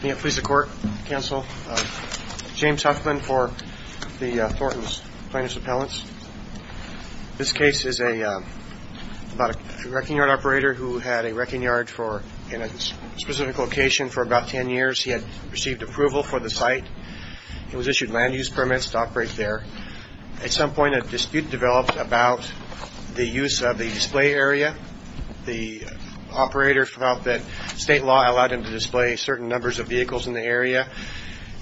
Please the court, counsel. James Huffman for the Thornton Plaintiff's Appellants. This case is about a wrecking yard operator who had a wrecking yard in a specific location for about 10 years. He had received approval for the site. It was issued land-use permits to operate there. At some point a dispute developed about the use of the display area. The operator felt that state law allowed him to display certain numbers of vehicles in the area,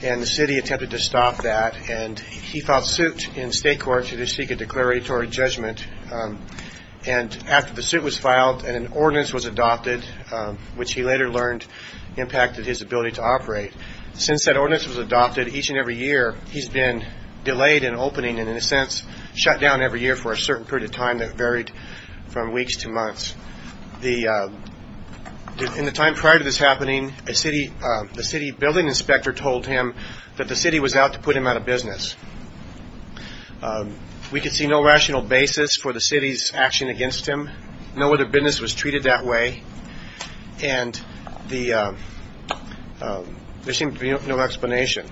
and the city attempted to stop that. He filed suit in state court to seek a declaratory judgment, and after the suit was filed, an ordinance was adopted, which he later learned impacted his ability to operate. Since that ordinance was adopted, each and every year he's been delayed in opening and in a sense shut down every year for a certain period of time that varied from weeks to months. In the time prior to this happening, the city building inspector told him that the city was out to put him out of business. We could see no rational basis for the city's action against him. No other business was treated that way, and there seemed to be no explanation.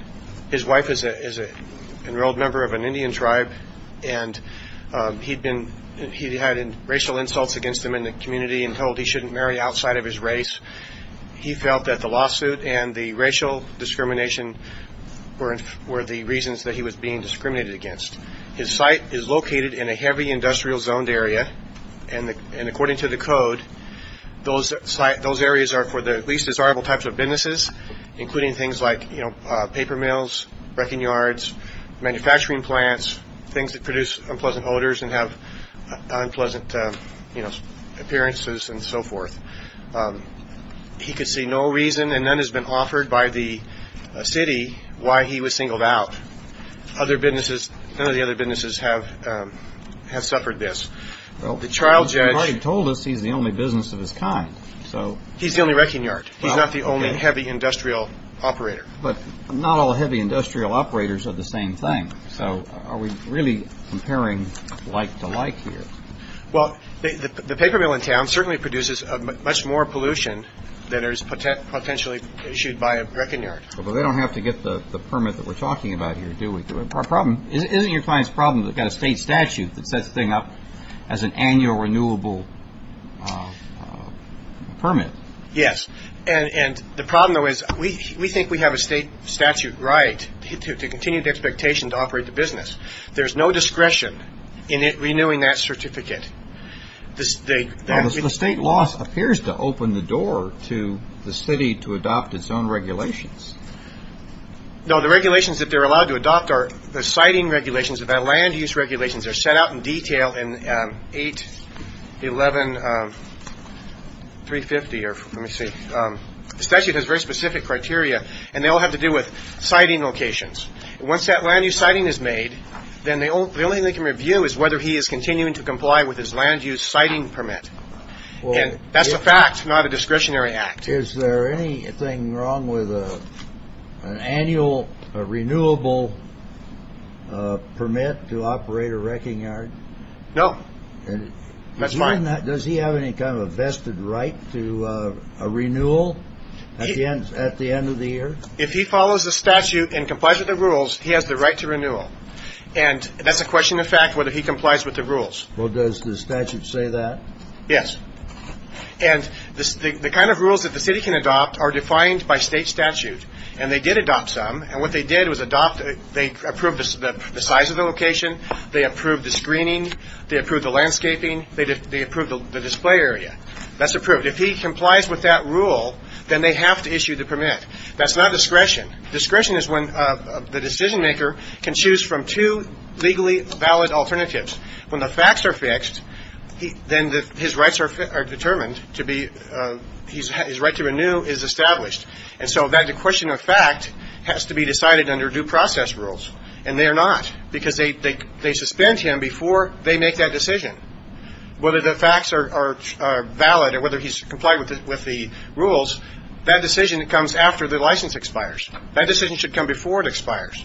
His wife is an enrolled member of an Indian tribe, and he'd had racial insults against him in the community and told he shouldn't marry outside of his race. He felt that the lawsuit and the racial discrimination were the reasons that he was being discriminated against. His site is located in a heavy industrial zoned area, and according to the code, those areas are for the least desirable types of businesses, including things like, you know, paper mills, wrecking yards, manufacturing plants, things that produce unpleasant odors and have so forth. He could see no reason, and none has been offered by the city, why he was singled out. Other businesses, none of the other businesses have suffered this. Well, the trial judge told us he's the only business of his kind, so he's the only wrecking yard. He's not the only heavy industrial operator. But not all heavy industrial operators are the same thing, so are we really comparing like-to-like here? Well, the paper mill in town certainly produces much more pollution than is potentially issued by a wrecking yard. But they don't have to get the permit that we're talking about here, do we? Our problem, isn't your client's problem that they've got a state statute that sets the thing up as an annual renewable permit? Yes, and the problem, though, is we think we have a state statute right to continue the expectation to operate the business. There's no discretion in it renewing that certificate. Well, the state law appears to open the door to the city to adopt its own regulations. No, the regulations that they're allowed to adopt are the siting regulations. The land use regulations are set out in detail in 8.11.350, or let me see. The statute has very specific criteria, and they all have to do with siting locations. Once that land use is made, then the only thing they can review is whether he is continuing to comply with his land use siting permit. That's a fact, not a discretionary act. Is there anything wrong with an annual renewable permit to operate a wrecking yard? No, that's fine. Does he have any kind of a vested right to a renewal at the end of the year? If he follows the statute and complies with the rules, he has the right to renewal. And that's a question of fact, whether he complies with the rules. Well, does the statute say that? Yes. And the kind of rules that the city can adopt are defined by state statute. And they did adopt some, and what they did was they approved the size of the location, they approved the screening, they approved the landscaping, they approved the display area. That's approved. If he complies with that rule, then they have to issue the permit. That's not discretion. Discretion is when the decision maker can choose from two legally valid alternatives. When the facts are fixed, then his rights are determined to be, his right to renew is established. And so that question of fact has to be decided under due process rules. And they are not, because they suspend him before they make that decision. Whether the facts are valid or whether he's complied with the rules, that decision comes after the license expires. That decision should come before it expires.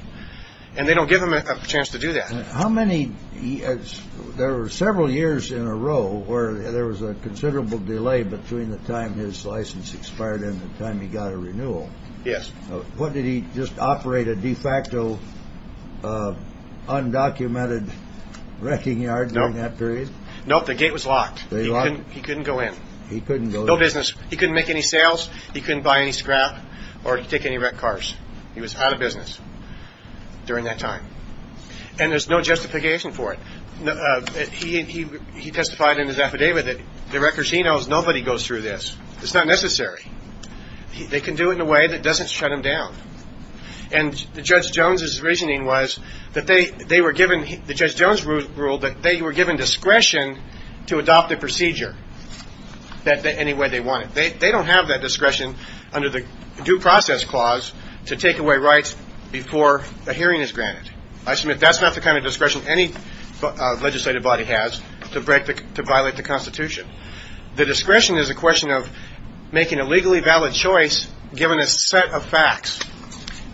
And they don't give him a chance to do that. How many years, there were several years in a row where there was a considerable delay between the time his license expired and the time he got a renewal. Yes. What, did he just operate a de facto undocumented wrecking yard during that period? Nope, the gate was locked. He couldn't go in. He couldn't go in. No business. He couldn't make any sales. He couldn't buy any scrap or take any wrecked cars. He was out of business during that time. And there's no justification for it. He testified in his affidavit that the records he knows, nobody goes through this. It's not necessary. They can do it in a way that doesn't shut him down. And Judge Jones' reasoning was that they were given, the Judge Jones ruled that they were given discretion to adopt the procedure any way they wanted. They don't have that discretion under the due process clause to take away rights before a hearing is granted. I submit that's not the kind of discretion any legislative body has to break, to violate the Constitution. The discretion is a question of making a legally valid choice, given a set of facts.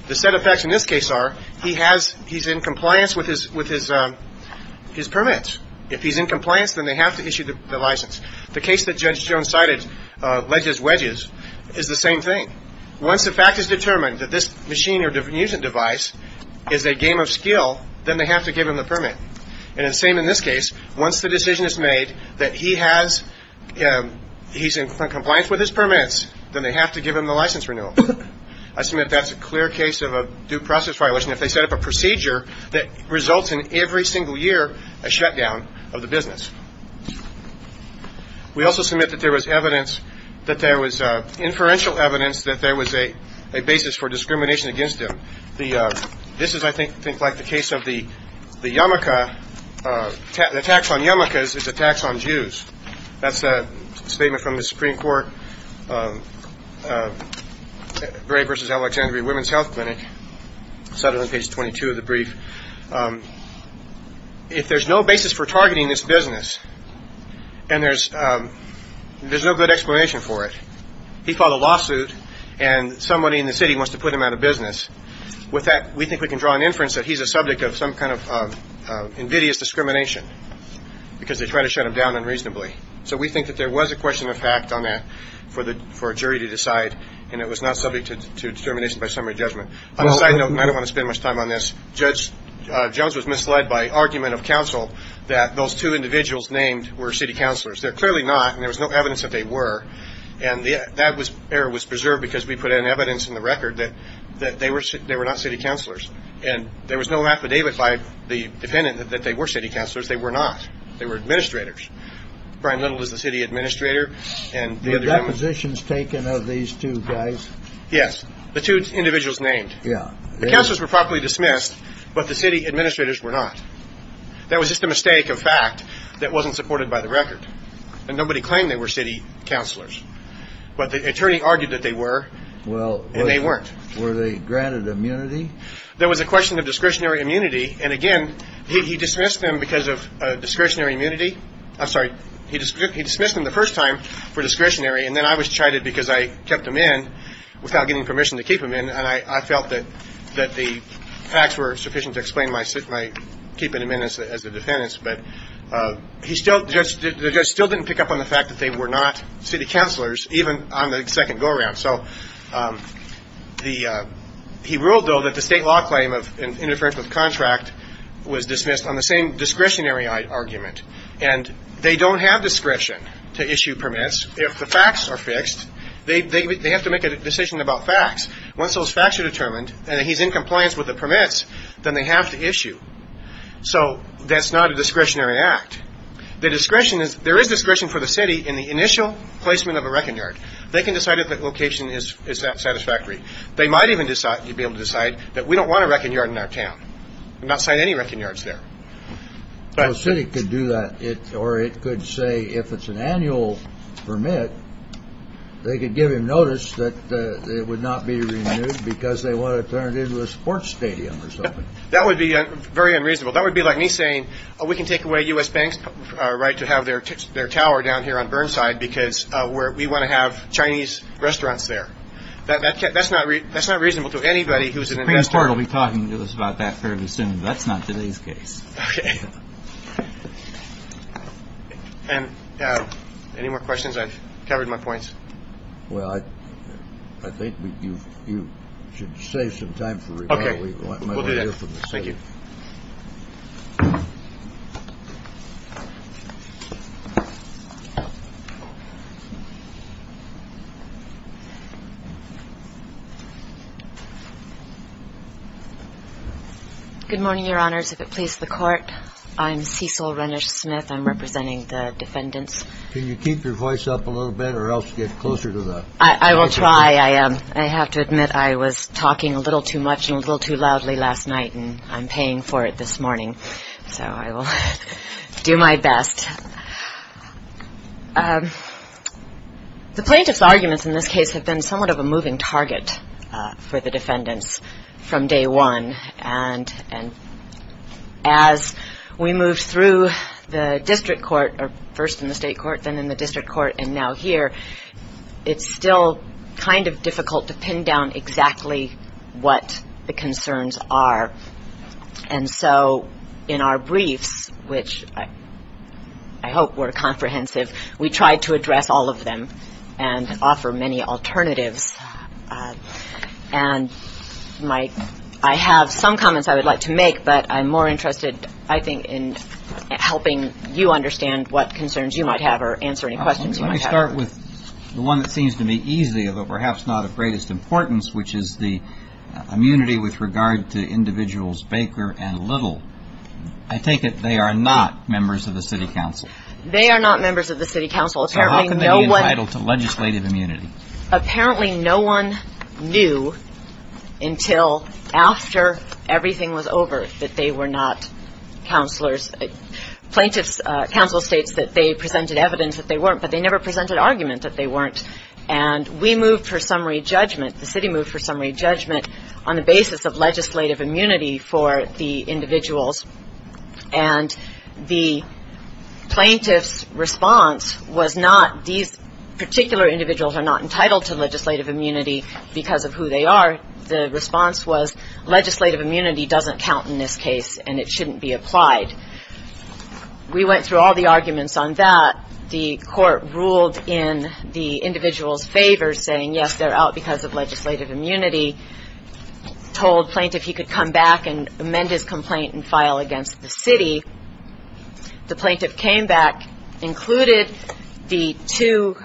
The set of facts in this case are, he has, he's in compliance with his, with his permits. If he's in compliance, then they have to issue the license. The case that Judge Jones cited, Ledges Wedges, is the same thing. Once the fact is determined that this machine or device is a game of skill, then they have to give him the permit. And it's the same in this case. Once the decision is made that he has, he's in compliance with his permits, then they have to give him the license renewal. I submit that's a clear case of a due process violation if they set up a procedure that results in every single year a shutdown of the business. We also submit that there was evidence, that there was inferential evidence that there was a basis for discrimination on Jews. That's a statement from the Supreme Court, Gray v. Alexandria Women's Health Clinic, cited on page 22 of the brief. If there's no basis for targeting this business, and there's, there's no good explanation for it. He filed a lawsuit, and somebody in the city wants to put him out of business. With that, we think we can draw an inference that he's a subject of some kind of invidious discrimination, because they try to shut him down unreasonably. So we think that there was a question of fact on that for the, for a jury to decide, and it was not subject to determination by summary judgment. On a side note, and I don't want to spend much time on this, Judge Jones was misled by argument of counsel that those two individuals named were city counselors. They're clearly not, and there was no evidence that they were. And that was, was preserved because we put in evidence in the record that, that they were, they were not city counselors. And there was no affidavit by the defendant that, that they were city counselors. They were not. They were administrators. Brian Little is the city administrator, and the other... The depositions taken of these two guys? Yes. The two individuals named. Yeah. The counselors were properly dismissed, but the city administrators were not. That was just a mistake of fact that wasn't supported by the and they weren't. Well, were they granted immunity? There was a question of discretionary immunity, and again, he dismissed them because of discretionary immunity. I'm sorry. He dismissed them the first time for discretionary, and then I was chided because I kept them in without getting permission to keep them in, and I felt that, that the facts were sufficient to explain my, my keeping them in as the defendants. But he still, the judge still didn't pick up on the fact that they were not city counselors, even on the second go-around. So the, he ruled, though, that the state law claim of interference with contract was dismissed on the same discretionary argument. And they don't have discretion to issue permits. If the facts are fixed, they, they, they have to make a decision about facts. Once those facts are determined, and he's in compliance with the permits, then they have to issue. So that's not a discretionary act. The satisfactory. They might even decide, be able to decide that we don't want a wrecking yard in our town, and not sign any wrecking yards there. Well, the city could do that, or it could say, if it's an annual permit, they could give him notice that it would not be renewed because they want to turn it into a sports stadium or something. That would be very unreasonable. That would be like me saying, oh, we can take away U.S. Bank's right to have their, their tower down here on Burnside because we want to have Chinese restaurants down here, and we want to have Chinese restaurants there. That, that, that's not, that's not reasonable to anybody who's an investor. The Supreme Court will be talking to us about that fairly soon, but that's not today's case. Okay. And any more questions? I've covered my points. Well, I, I think we, you, you should save some time for rebuttal. Okay. We'll do that. Thank you. Good morning, Your Honors. If it please the Court, I'm Cecil Renish Smith. I'm representing the defendants. Can you keep your voice up a little bit, or else get closer to the... I, I will try. I, I have to admit I was talking a little too much and a little too loudly last night, and I'm paying for it this morning. So I will do my best. The plaintiff's arguments in this case have been somewhat of a moving target for the defendants from day one. And, and as we move through the district court, or first in the state court, then in the district court, and now here, it's still kind of difficult to pin down exactly what the concerns are. And so in our briefs, which I hope were comprehensive, we tried to address all of them and offer many alternatives. And my, I have some comments I would like to make, but I'm more interested, I think, in helping you understand what concerns you might have or answer any questions you might have. Let me start with the one that seems to me easy, although perhaps not of greatest importance, which is the immunity with regard to individuals Baker and Little. I take it they are not members of the city council. They are not members of the city council. So how can they be entitled to legislative immunity? Apparently no one knew until after everything was over that they were not councillors. Plaintiff's counsel states that they presented evidence that they weren't, but they never presented argument that they weren't. And we moved for summary judgment, the city moved for summary judgment, on the basis of legislative immunity for the individuals. And the plaintiff's response was not these particular individuals are not entitled to legislative immunity because of who they are. The response was legislative immunity doesn't count in this case, and it shouldn't be applied. We went through all the arguments on that. The court ruled in the individual's favor, saying, yes, they're out because of legislative immunity. Told plaintiff he could come back and amend his complaint and file against the city. The plaintiff came back, included the two,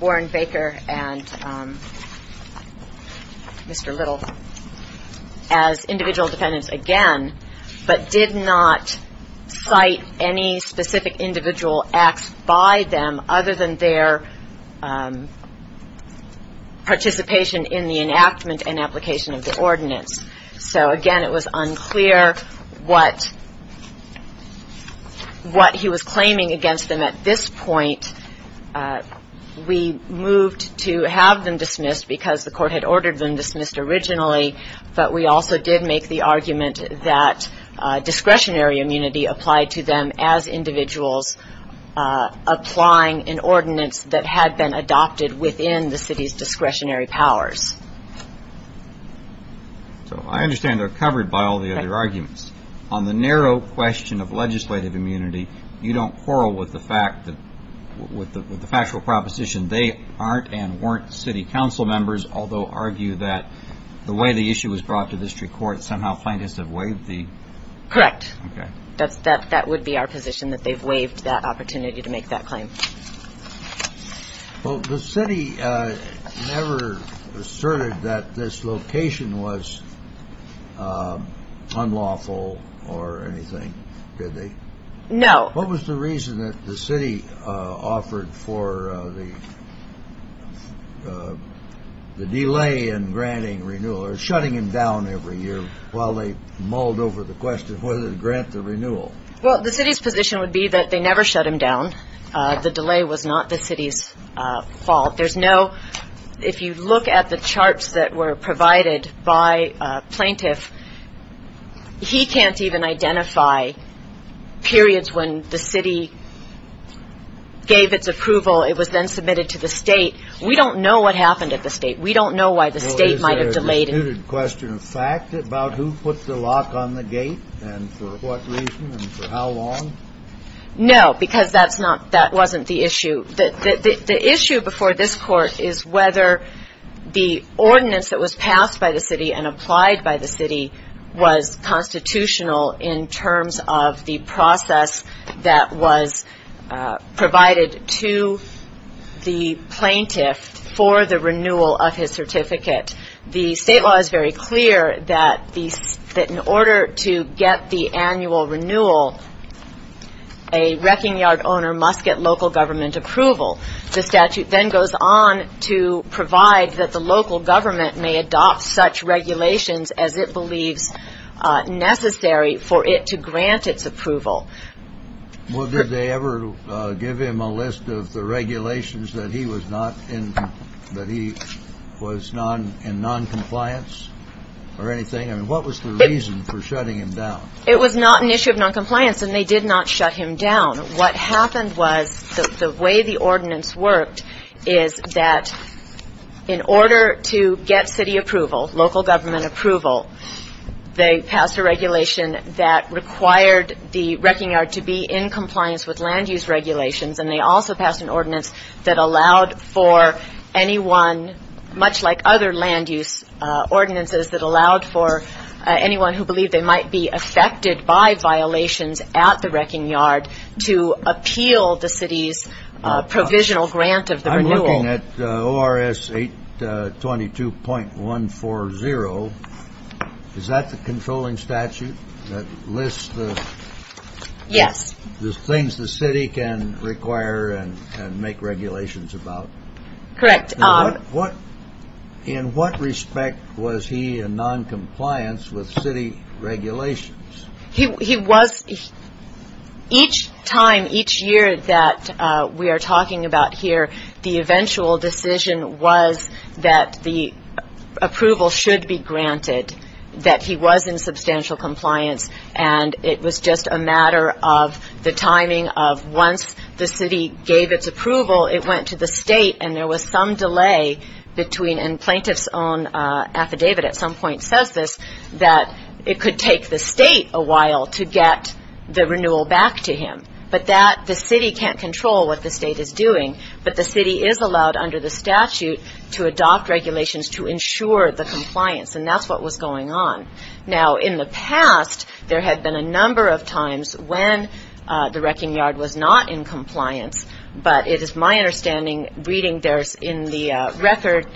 Warren Baker and Mr. Little, as individual defendants again, but did not cite any specific individual acts by them other than their participation in the enactment and application of the ordinance. So, again, it was unclear what he was claiming against them at this point. We moved to have them dismissed because the court had ordered them dismissed originally, but we also did make the argument that discretionary immunity applied to them as individuals applying an ordinance that had been adopted within the city's discretionary powers. So I understand they're covered by all the other arguments. On the narrow question of legislative immunity, you don't quarrel with the factual proposition they aren't and weren't city council members, although argue that the way the issue was brought to district court, somehow plaintiffs have waived the... Correct. That would be our position, that they've waived that opportunity to make that claim. Well, the city never asserted that this location was unlawful or anything, did they? No. What was the reason that the city offered for the delay in granting renewal or shutting him down every year while they mulled over the question whether to grant the renewal? Well, the city's position would be that they never shut him down. The delay was not the city's fault. If you look at the charts that were provided by a plaintiff, he can't even identify periods when the city gave its approval, it was then submitted to the state. We don't know what happened at the state. We don't know why the state might have delayed it. Was there a muted question of fact about who put the lock on the gate and for what reason and for how long? No, because that wasn't the issue. The issue before this court is whether the ordinance that was passed by the city and applied by the city was constitutional in terms of the process that was provided to the plaintiff for the renewal of his certificate. It was very clear that in order to get the annual renewal, a wrecking yard owner must get local government approval. The statute then goes on to provide that the local government may adopt such regulations as it believes necessary for it to grant its approval. Well, did they ever give him a list of the regulations that he was not in, that he was in noncompliance? Or anything? I mean, what was the reason for shutting him down? It was not an issue of noncompliance, and they did not shut him down. What happened was the way the ordinance worked is that in order to get city approval, local government approval, they passed a regulation that required the wrecking yard to be in compliance with land use regulations, and they also passed an ordinance that allowed for anyone, much like other land use ordinances, to be in compliance with land use regulations. And they also passed an ordinance that allowed for anyone who believed they might be affected by violations at the wrecking yard to appeal the city's provisional grant of the renewal. I'm looking at ORS 822.140. Is that the controlling statute that lists the things the city can require and make regulations about? Correct. In what respect was he in noncompliance with city regulations? He was. Each time, each year that we are talking about here, the eventual decision was that the approval should be granted, that he was in substantial compliance, and it was just a matter of the timing of once the city gave its approval, it went to the state, and then it went to the city. And there was some delay between, and plaintiff's own affidavit at some point says this, that it could take the state a while to get the renewal back to him. But the city can't control what the state is doing, but the city is allowed under the statute to adopt regulations to ensure the compliance, and that's what was going on. Now, in the past, there had been a number of times when the wrecking yard was not in compliance, but it is my understanding, reading in the record,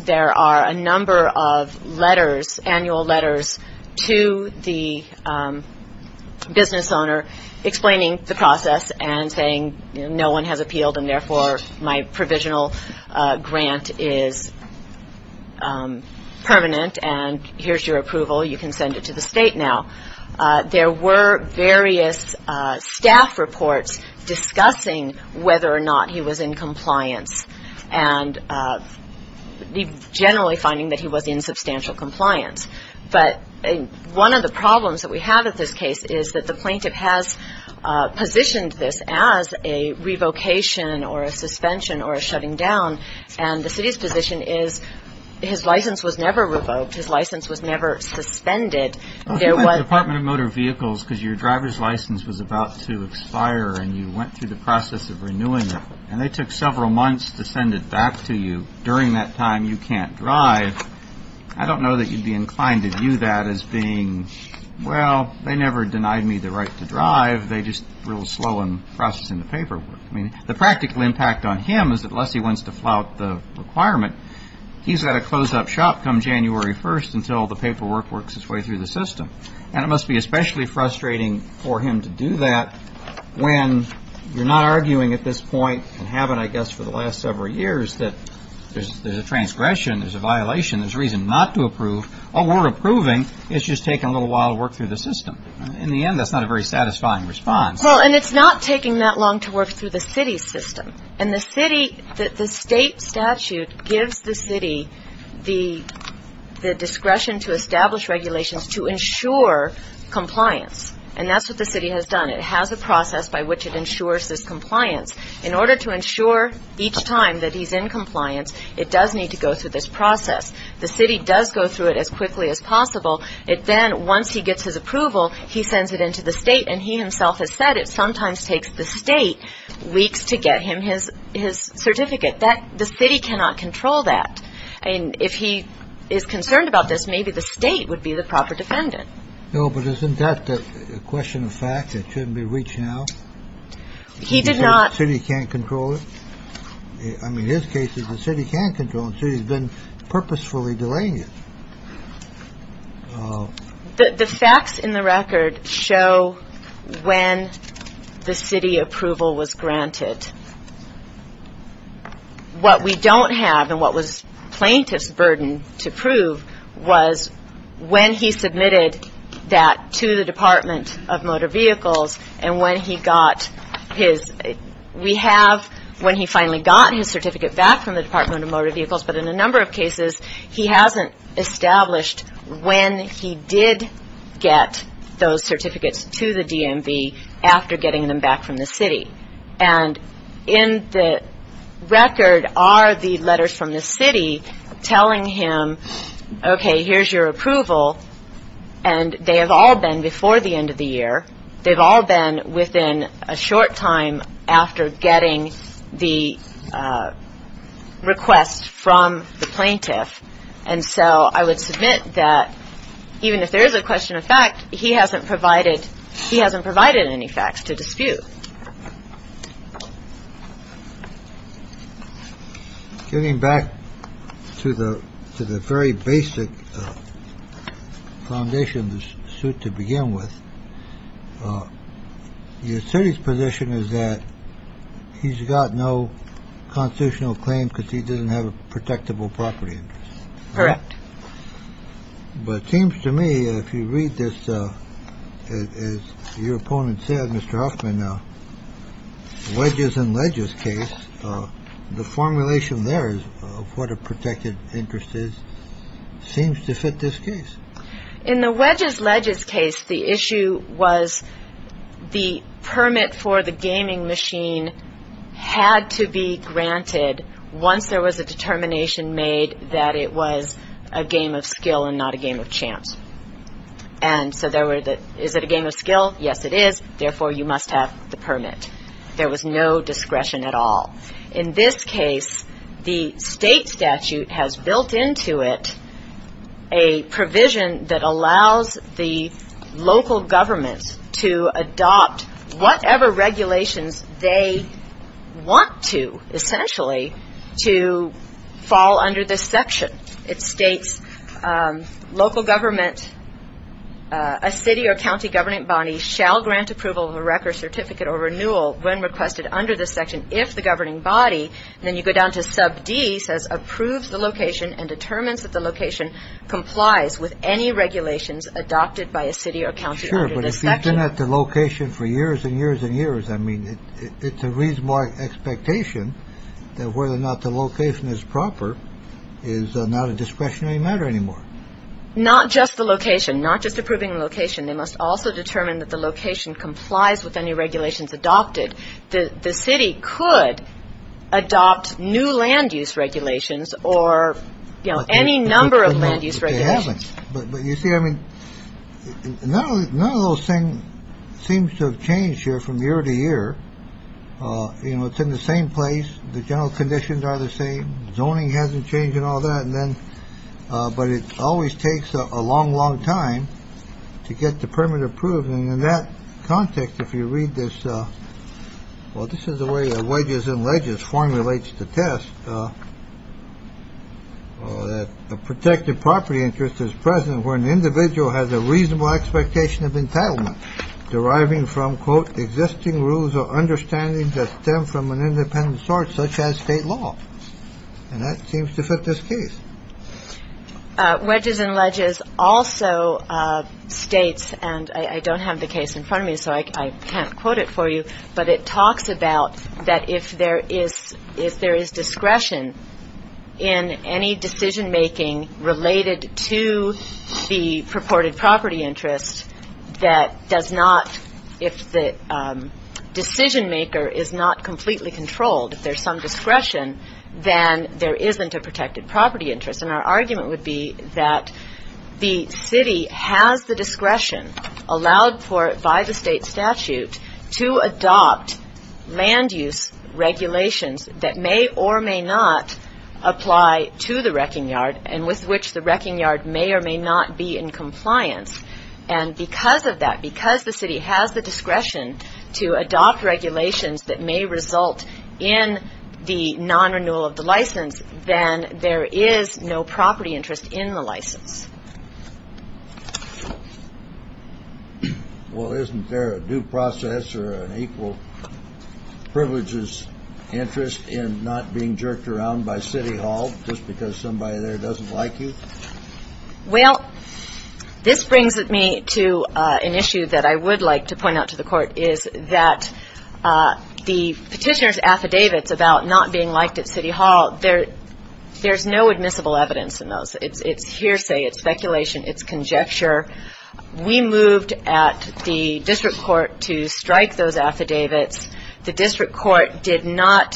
there are a number of letters, annual letters, to the business owner explaining the process and saying no one has appealed, and therefore, my provisional grant is permanent, and here's your approval. You can send it to the state now. There were various staff reports discussing whether or not he was in compliance, and generally finding that he was in substantial compliance. But one of the problems that we have at this case is that the plaintiff has positioned this as a revocation or a suspension or a shutting down, and the city's position is his license was never revoked. His license was never suspended. And it must be especially frustrating for him to do that when you're not arguing at this point, and haven't, I guess, for the last several years, that there's a transgression, there's a violation, there's a reason not to approve. Oh, we're approving. It's just taking a little while to work through the system. In the end, that's not a very satisfying response. Well, and it's not taking that long to work through the city's system, and the city, the state statute gives the city the discretion to establish regulations to ensure compliance, and that's what the city has done. It has a process by which it ensures this compliance. In order to ensure each time that he's in compliance, it does need to go through this process. The city does go through it as quickly as possible. It then, once he gets his approval, he sends it into the state, and he himself has said it sometimes takes the state weeks to get him his certificate. The city cannot control that. And if he is concerned about this, maybe the state would be the proper defendant. No, but isn't that a question of fact? It shouldn't be reached now. He did not. He can't control it. I mean, his case is the city can't control it. He's been purposefully delaying it. The facts in the record show when the city approval was granted. What we don't have, and what was plaintiff's burden to prove, was when he submitted that to the Department of Motor Vehicles, and when he got his, we have when he finally got his certificate back from the Department of Motor Vehicles, but in a number of cases, he hasn't established when he submitted it. He did get those certificates to the DMV after getting them back from the city. And in the record are the letters from the city telling him, okay, here's your approval, and they have all been before the end of the year. They've all been within a short time after getting the request from the plaintiff. And so I would submit that even if there is a question of fact, he hasn't provided he hasn't provided any facts to dispute. Getting back to the to the very basic foundation, the suit to begin with your city's position is that he's got no constitutional claim because he doesn't have a protectable property. Correct. But it seems to me if you read this, as your opponent said, Mr. Hoffman, wedges and ledges case, the formulation there is what a protected interest is seems to fit this case. In the wedges ledges case, the issue was the permit for the gaming machine had to be granted once there was a determination made that it was a game of skill and not a game of chance. And so there were the is it a game of skill? Yes, it is. Therefore, you must have the permit. There was no discretion at all. In this case, the state statute has built into it a provision that allows the local government to adopt whatever regulations they want to essentially to fall under this section. It states local government, a city or county governing body shall grant approval of a record certificate or renewal when requested under this section. If the governing body then you go down to sub D says approves the location and determines that the location complies with any regulations adopted by a city or county. Sure. But if you've been at the location for years and years and years, I mean, it's a reasonable expectation that whether or not the location is proper is not a discretionary matter anymore. Not just the location, not just approving location. They must also determine that the location complies with any regulations adopted. The city could adopt new land use regulations or, you know, any number of land use regulations. But you see, I mean, none of those things seems to have changed here from year to year. You know, it's in the same place. The general conditions are the same. Zoning hasn't changed and all that. But it always takes a long, long time to get the permit approved. And in that context, if you read this, well, this is the way wages and ledgers formulates the test. The protected property interest is present where an individual has a reasonable expectation of entitlement deriving from, quote, existing rules or understanding that stem from an independent source, such as state law. And that seems to fit this case. Wedges and ledges also states. And I don't have the case in front of me, so I can't quote it for you. But it talks about that if there is if there is discretion in any decision making related to the purported property interest, that does not if the decision maker is not completely controlled, if there's some discretion, then there isn't a protected property interest. And our argument would be that the city has the discretion allowed for by the state statute to adopt land use regulations that may or may not apply to the wrecking yard and with which the wrecking yard may or may not be in compliance. And because of that, because the city has the discretion to adopt regulations that may result in the non renewal of the license, then there is no property interest in the license. Well, isn't there a due process or an equal privileges interest in not being jerked around by City Hall just because somebody there doesn't like you? Well, this brings me to an issue that I would like to point out to the Court is that the petitioner's affidavits about not being liked at City Hall, there's no admissible evidence in those. It's hearsay. It's speculation. It's conjecture. We moved at the district court to strike those affidavits. The district court did not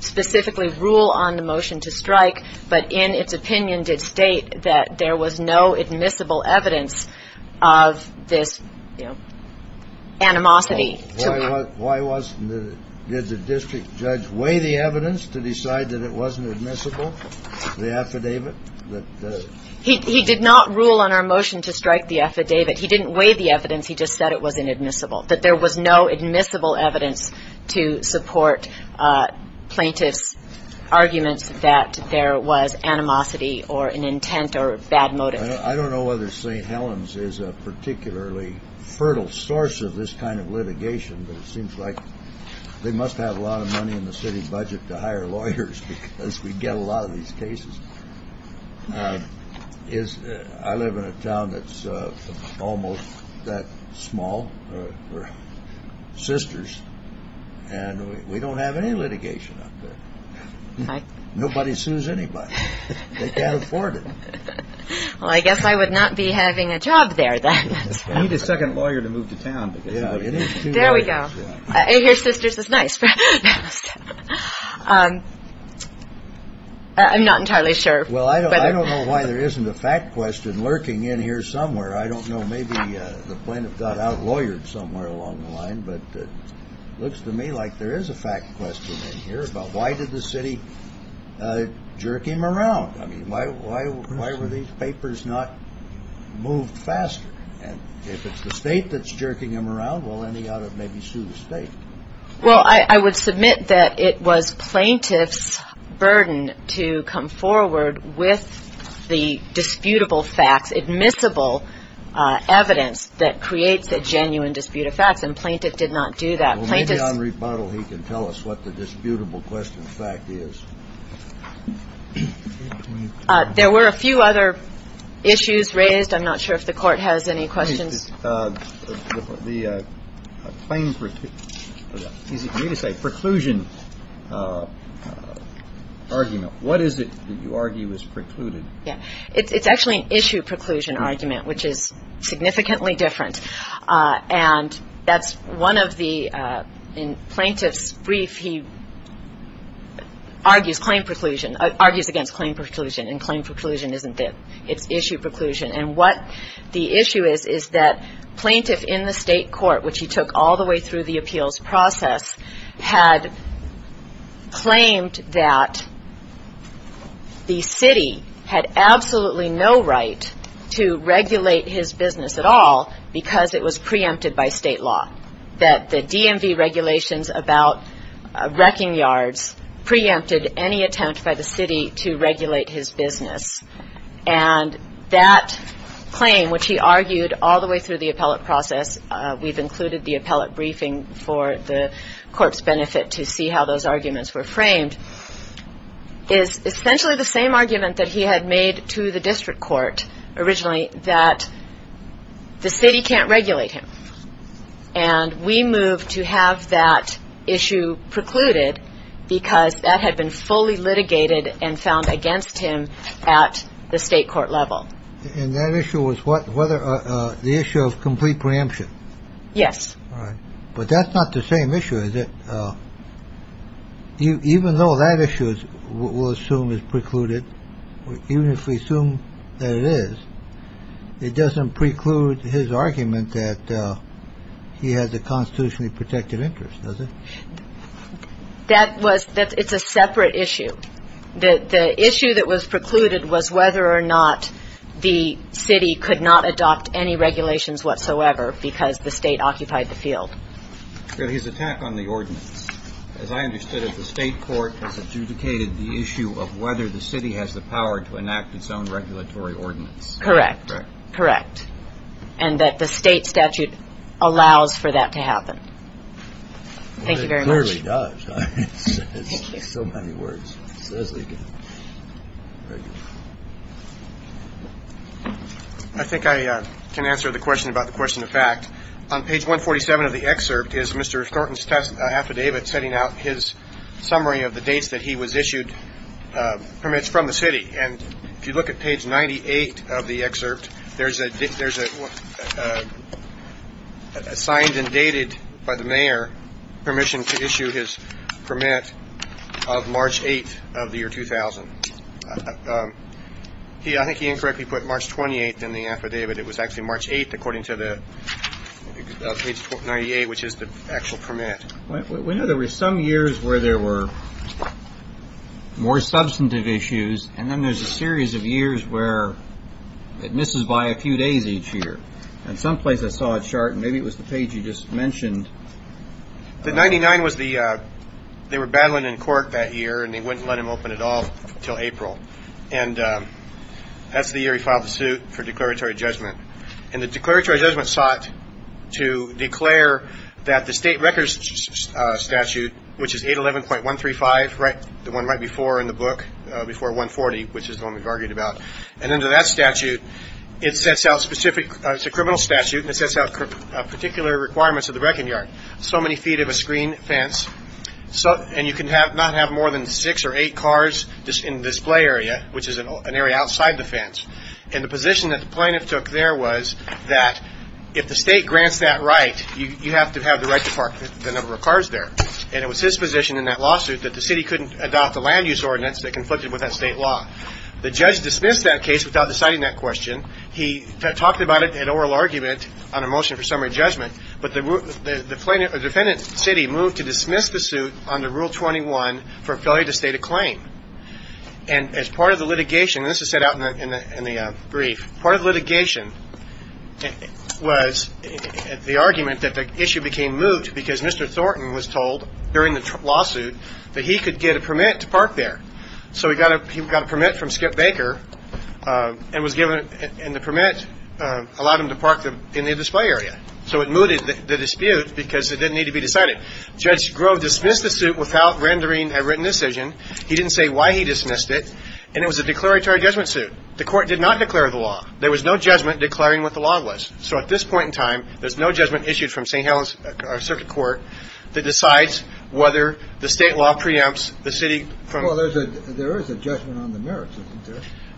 specifically rule on the motion to strike, but in its opinion did state that there was no admissible evidence of this animosity. Why wasn't it? Did the district judge weigh the evidence to decide that it wasn't admissible, the affidavit? He did not rule on our motion to strike the affidavit. He didn't weigh the evidence. He just said it was inadmissible, that there was no admissible evidence to support plaintiff's arguments that there was animosity or an intent or a bad motive. I don't know whether St. Helens is a particularly fertile source of this kind of litigation, but it seems like they must have a lot of money in the city budget to hire lawyers because we get a lot of these cases. I live in a town that's almost that small. We're sisters, and we don't have any litigation up there. Nobody sues anybody. They can't afford it. Well, I guess I would not be having a job there then. You need a second lawyer to move to town. There we go. Here, sisters is nice. I'm not entirely sure. Well, I don't know why there isn't a fact question lurking in here somewhere. I don't know. Maybe the plaintiff got outlawyered somewhere along the line, but it looks to me like there is a fact question in here about why did the city jerk him around? I mean, why were these papers not moved faster? And if it's the state that's jerking him around, well, then he ought to maybe sue the state. Well, I would submit that it was plaintiff's burden to come forward with the disputable facts, admissible evidence that creates a genuine dispute of facts, and plaintiff did not do that. Well, maybe on rebuttal he can tell us what the disputable question fact is. There were a few other issues raised. I'm not sure if the Court has any questions. What is the claim, is it me to say, preclusion argument? What is it that you argue is precluded? Yeah. It's actually an issue preclusion argument, which is significantly different, and that's one of the plaintiff's brief. He argues claim preclusion, argues against claim preclusion, and claim preclusion isn't there. It's issue preclusion. And what the issue is is that plaintiff in the state court, which he took all the way through the appeals process, had claimed that the city had absolutely no right to regulate his business at all because it was preempted by state law, that the DMV regulations about wrecking yards preempted any attempt by the city to regulate his business. And that claim, which he argued all the way through the appellate process, we've included the appellate briefing for the court's benefit to see how those arguments were framed, is essentially the same argument that he had made to the district court originally, that the city can't regulate him. And we moved to have that issue precluded because that had been fully litigated and found against him at the state court level. And that issue was the issue of complete preemption. Yes. But that's not the same issue, is it? Even though that issue we'll assume is precluded, even if we assume that it is, it doesn't preclude his argument that he has a constitutionally protected interest, does it? It's a separate issue. The issue that was precluded was whether or not the city could not adopt any regulations whatsoever because the state occupied the field. His attack on the ordinance, as I understood it, the state court has adjudicated the issue of whether the city has the power to enact its own regulatory ordinance. Correct. Correct. And that the state statute allows for that to happen. Thank you very much. It clearly does. It's so many words. It says they can regulate. I think I can answer the question about the question of fact. On page 147 of the excerpt is Mr. Thornton's affidavit setting out his summary of the dates that he was issued permits from the city. And if you look at page 98 of the excerpt, there's a there's a signed and dated by the mayor permission to issue his permit of March 8th of the year 2000. He I think he incorrectly put March 28th in the affidavit. It was actually March 8th, according to the 98, which is the actual permit. We know there were some years where there were more substantive issues. And then there's a series of years where it misses by a few days each year. And someplace I saw a chart. Maybe it was the page you just mentioned. The 99 was the they were battling in court that year and they wouldn't let him open it all till April. And that's the year he filed the suit for declaratory judgment. And the declaratory judgment sought to declare that the state records statute, which is 811.135. Right. The one right before in the book before 140, which is the one we've argued about. And under that statute, it sets out specific criminal statute and it sets out particular requirements of the wrecking yard. So many feet of a screen fence. So and you can have not have more than six or eight cars in this play area, which is an area outside the fence. And the position that the plaintiff took there was that if the state grants that right, you have to have the right to park the number of cars there. And it was his position in that lawsuit that the city couldn't adopt the land use ordinance that conflicted with that state law. The judge dismissed that case without deciding that question. He talked about it in oral argument on a motion for summary judgment. But the defendant's city moved to dismiss the suit under Rule 21 for failure to state a claim. And as part of the litigation, this is set out in the brief. Part of litigation was the argument that the issue became moot because Mr. Thornton was told during the lawsuit that he could get a permit to park there. So he got a permit from Skip Baker and was given the permit, allowed him to park in the display area. So it mooted the dispute because it didn't need to be decided. Judge Grove dismissed the suit without rendering a written decision. He didn't say why he dismissed it. And it was a declaratory judgment suit. The court did not declare the law. There was no judgment declaring what the law was. So at this point in time, there's no judgment issued from St. Helens Circuit Court that decides whether the state law preempts the city from. Well, there is a judgment on the merits.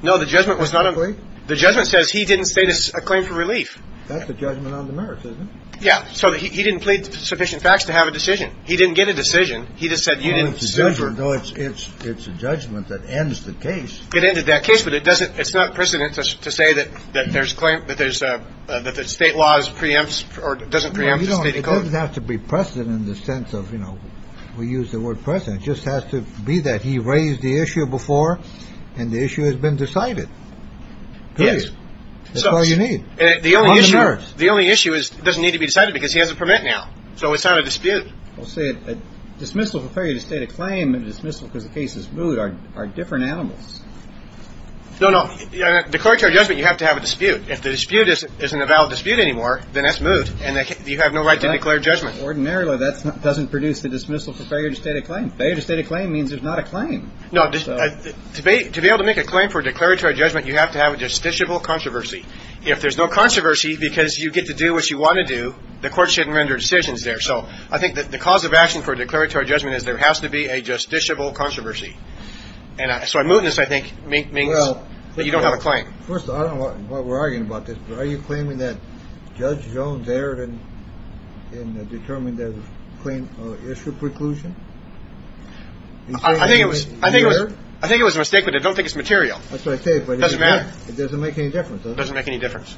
No, the judgment was not. The judgment says he didn't state a claim for relief. That's a judgment on the merits, isn't it? So he didn't plead sufficient facts to have a decision. He didn't get a decision. He just said, you know, it's it's it's a judgment that ends the case. It ended that case. But it doesn't it's not precedent to say that that there's claim that there's that the state laws preempts or doesn't preempt. You don't have to be precedent in the sense of, you know, we use the word precedent just has to be that he raised the issue before. And the issue has been decided. Yes. So you need the only issue. The only issue is it doesn't need to be decided because he has a permit now. So it's not a dispute. We'll say a dismissal for failure to state a claim and dismissal because the case is moot are are different animals. No, no. Yeah. Declaratory judgment. You have to have a dispute. If the dispute isn't a valid dispute anymore, then that's moot. And you have no right to declare judgment. Ordinarily, that doesn't produce the dismissal for failure to state a claim. Failure to state a claim means there's not a claim. No debate. To be able to make a claim for declaratory judgment, you have to have a justiciable controversy. If there's no controversy because you get to do what you want to do, the court shouldn't render decisions there. So I think that the cause of action for declaratory judgment is there has to be a justiciable controversy. And so I'm moving this, I think, means that you don't have a claim. First, I don't know what we're arguing about this. Are you claiming that Judge Jones erred in determining the claim issue preclusion? I think it was I think I think it was a mistake, but I don't think it's material. It doesn't make any difference. It doesn't make any difference.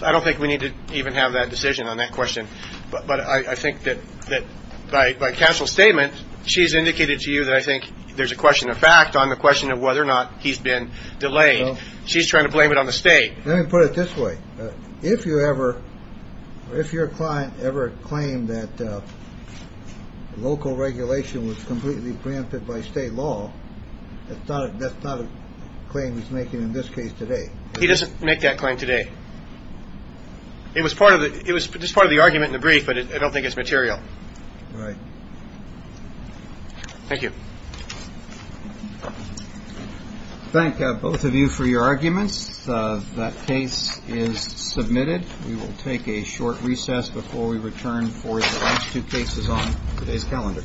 I don't think we need to even have that decision on that question. But I think that that by council statement, she's indicated to you that I think there's a question of fact on the question of whether or not he's been delayed. She's trying to blame it on the state. Let me put it this way. If you ever if your client ever claimed that local regulation was completely granted by state law, that's not that's not a claim he's making in this case today. He doesn't make that claim today. It was part of it. It was just part of the argument in the brief, but I don't think it's material. Right. Thank you. Thank both of you for your arguments. That case is submitted. We will take a short recess before we return for the last two cases on today's calendar. Thank you.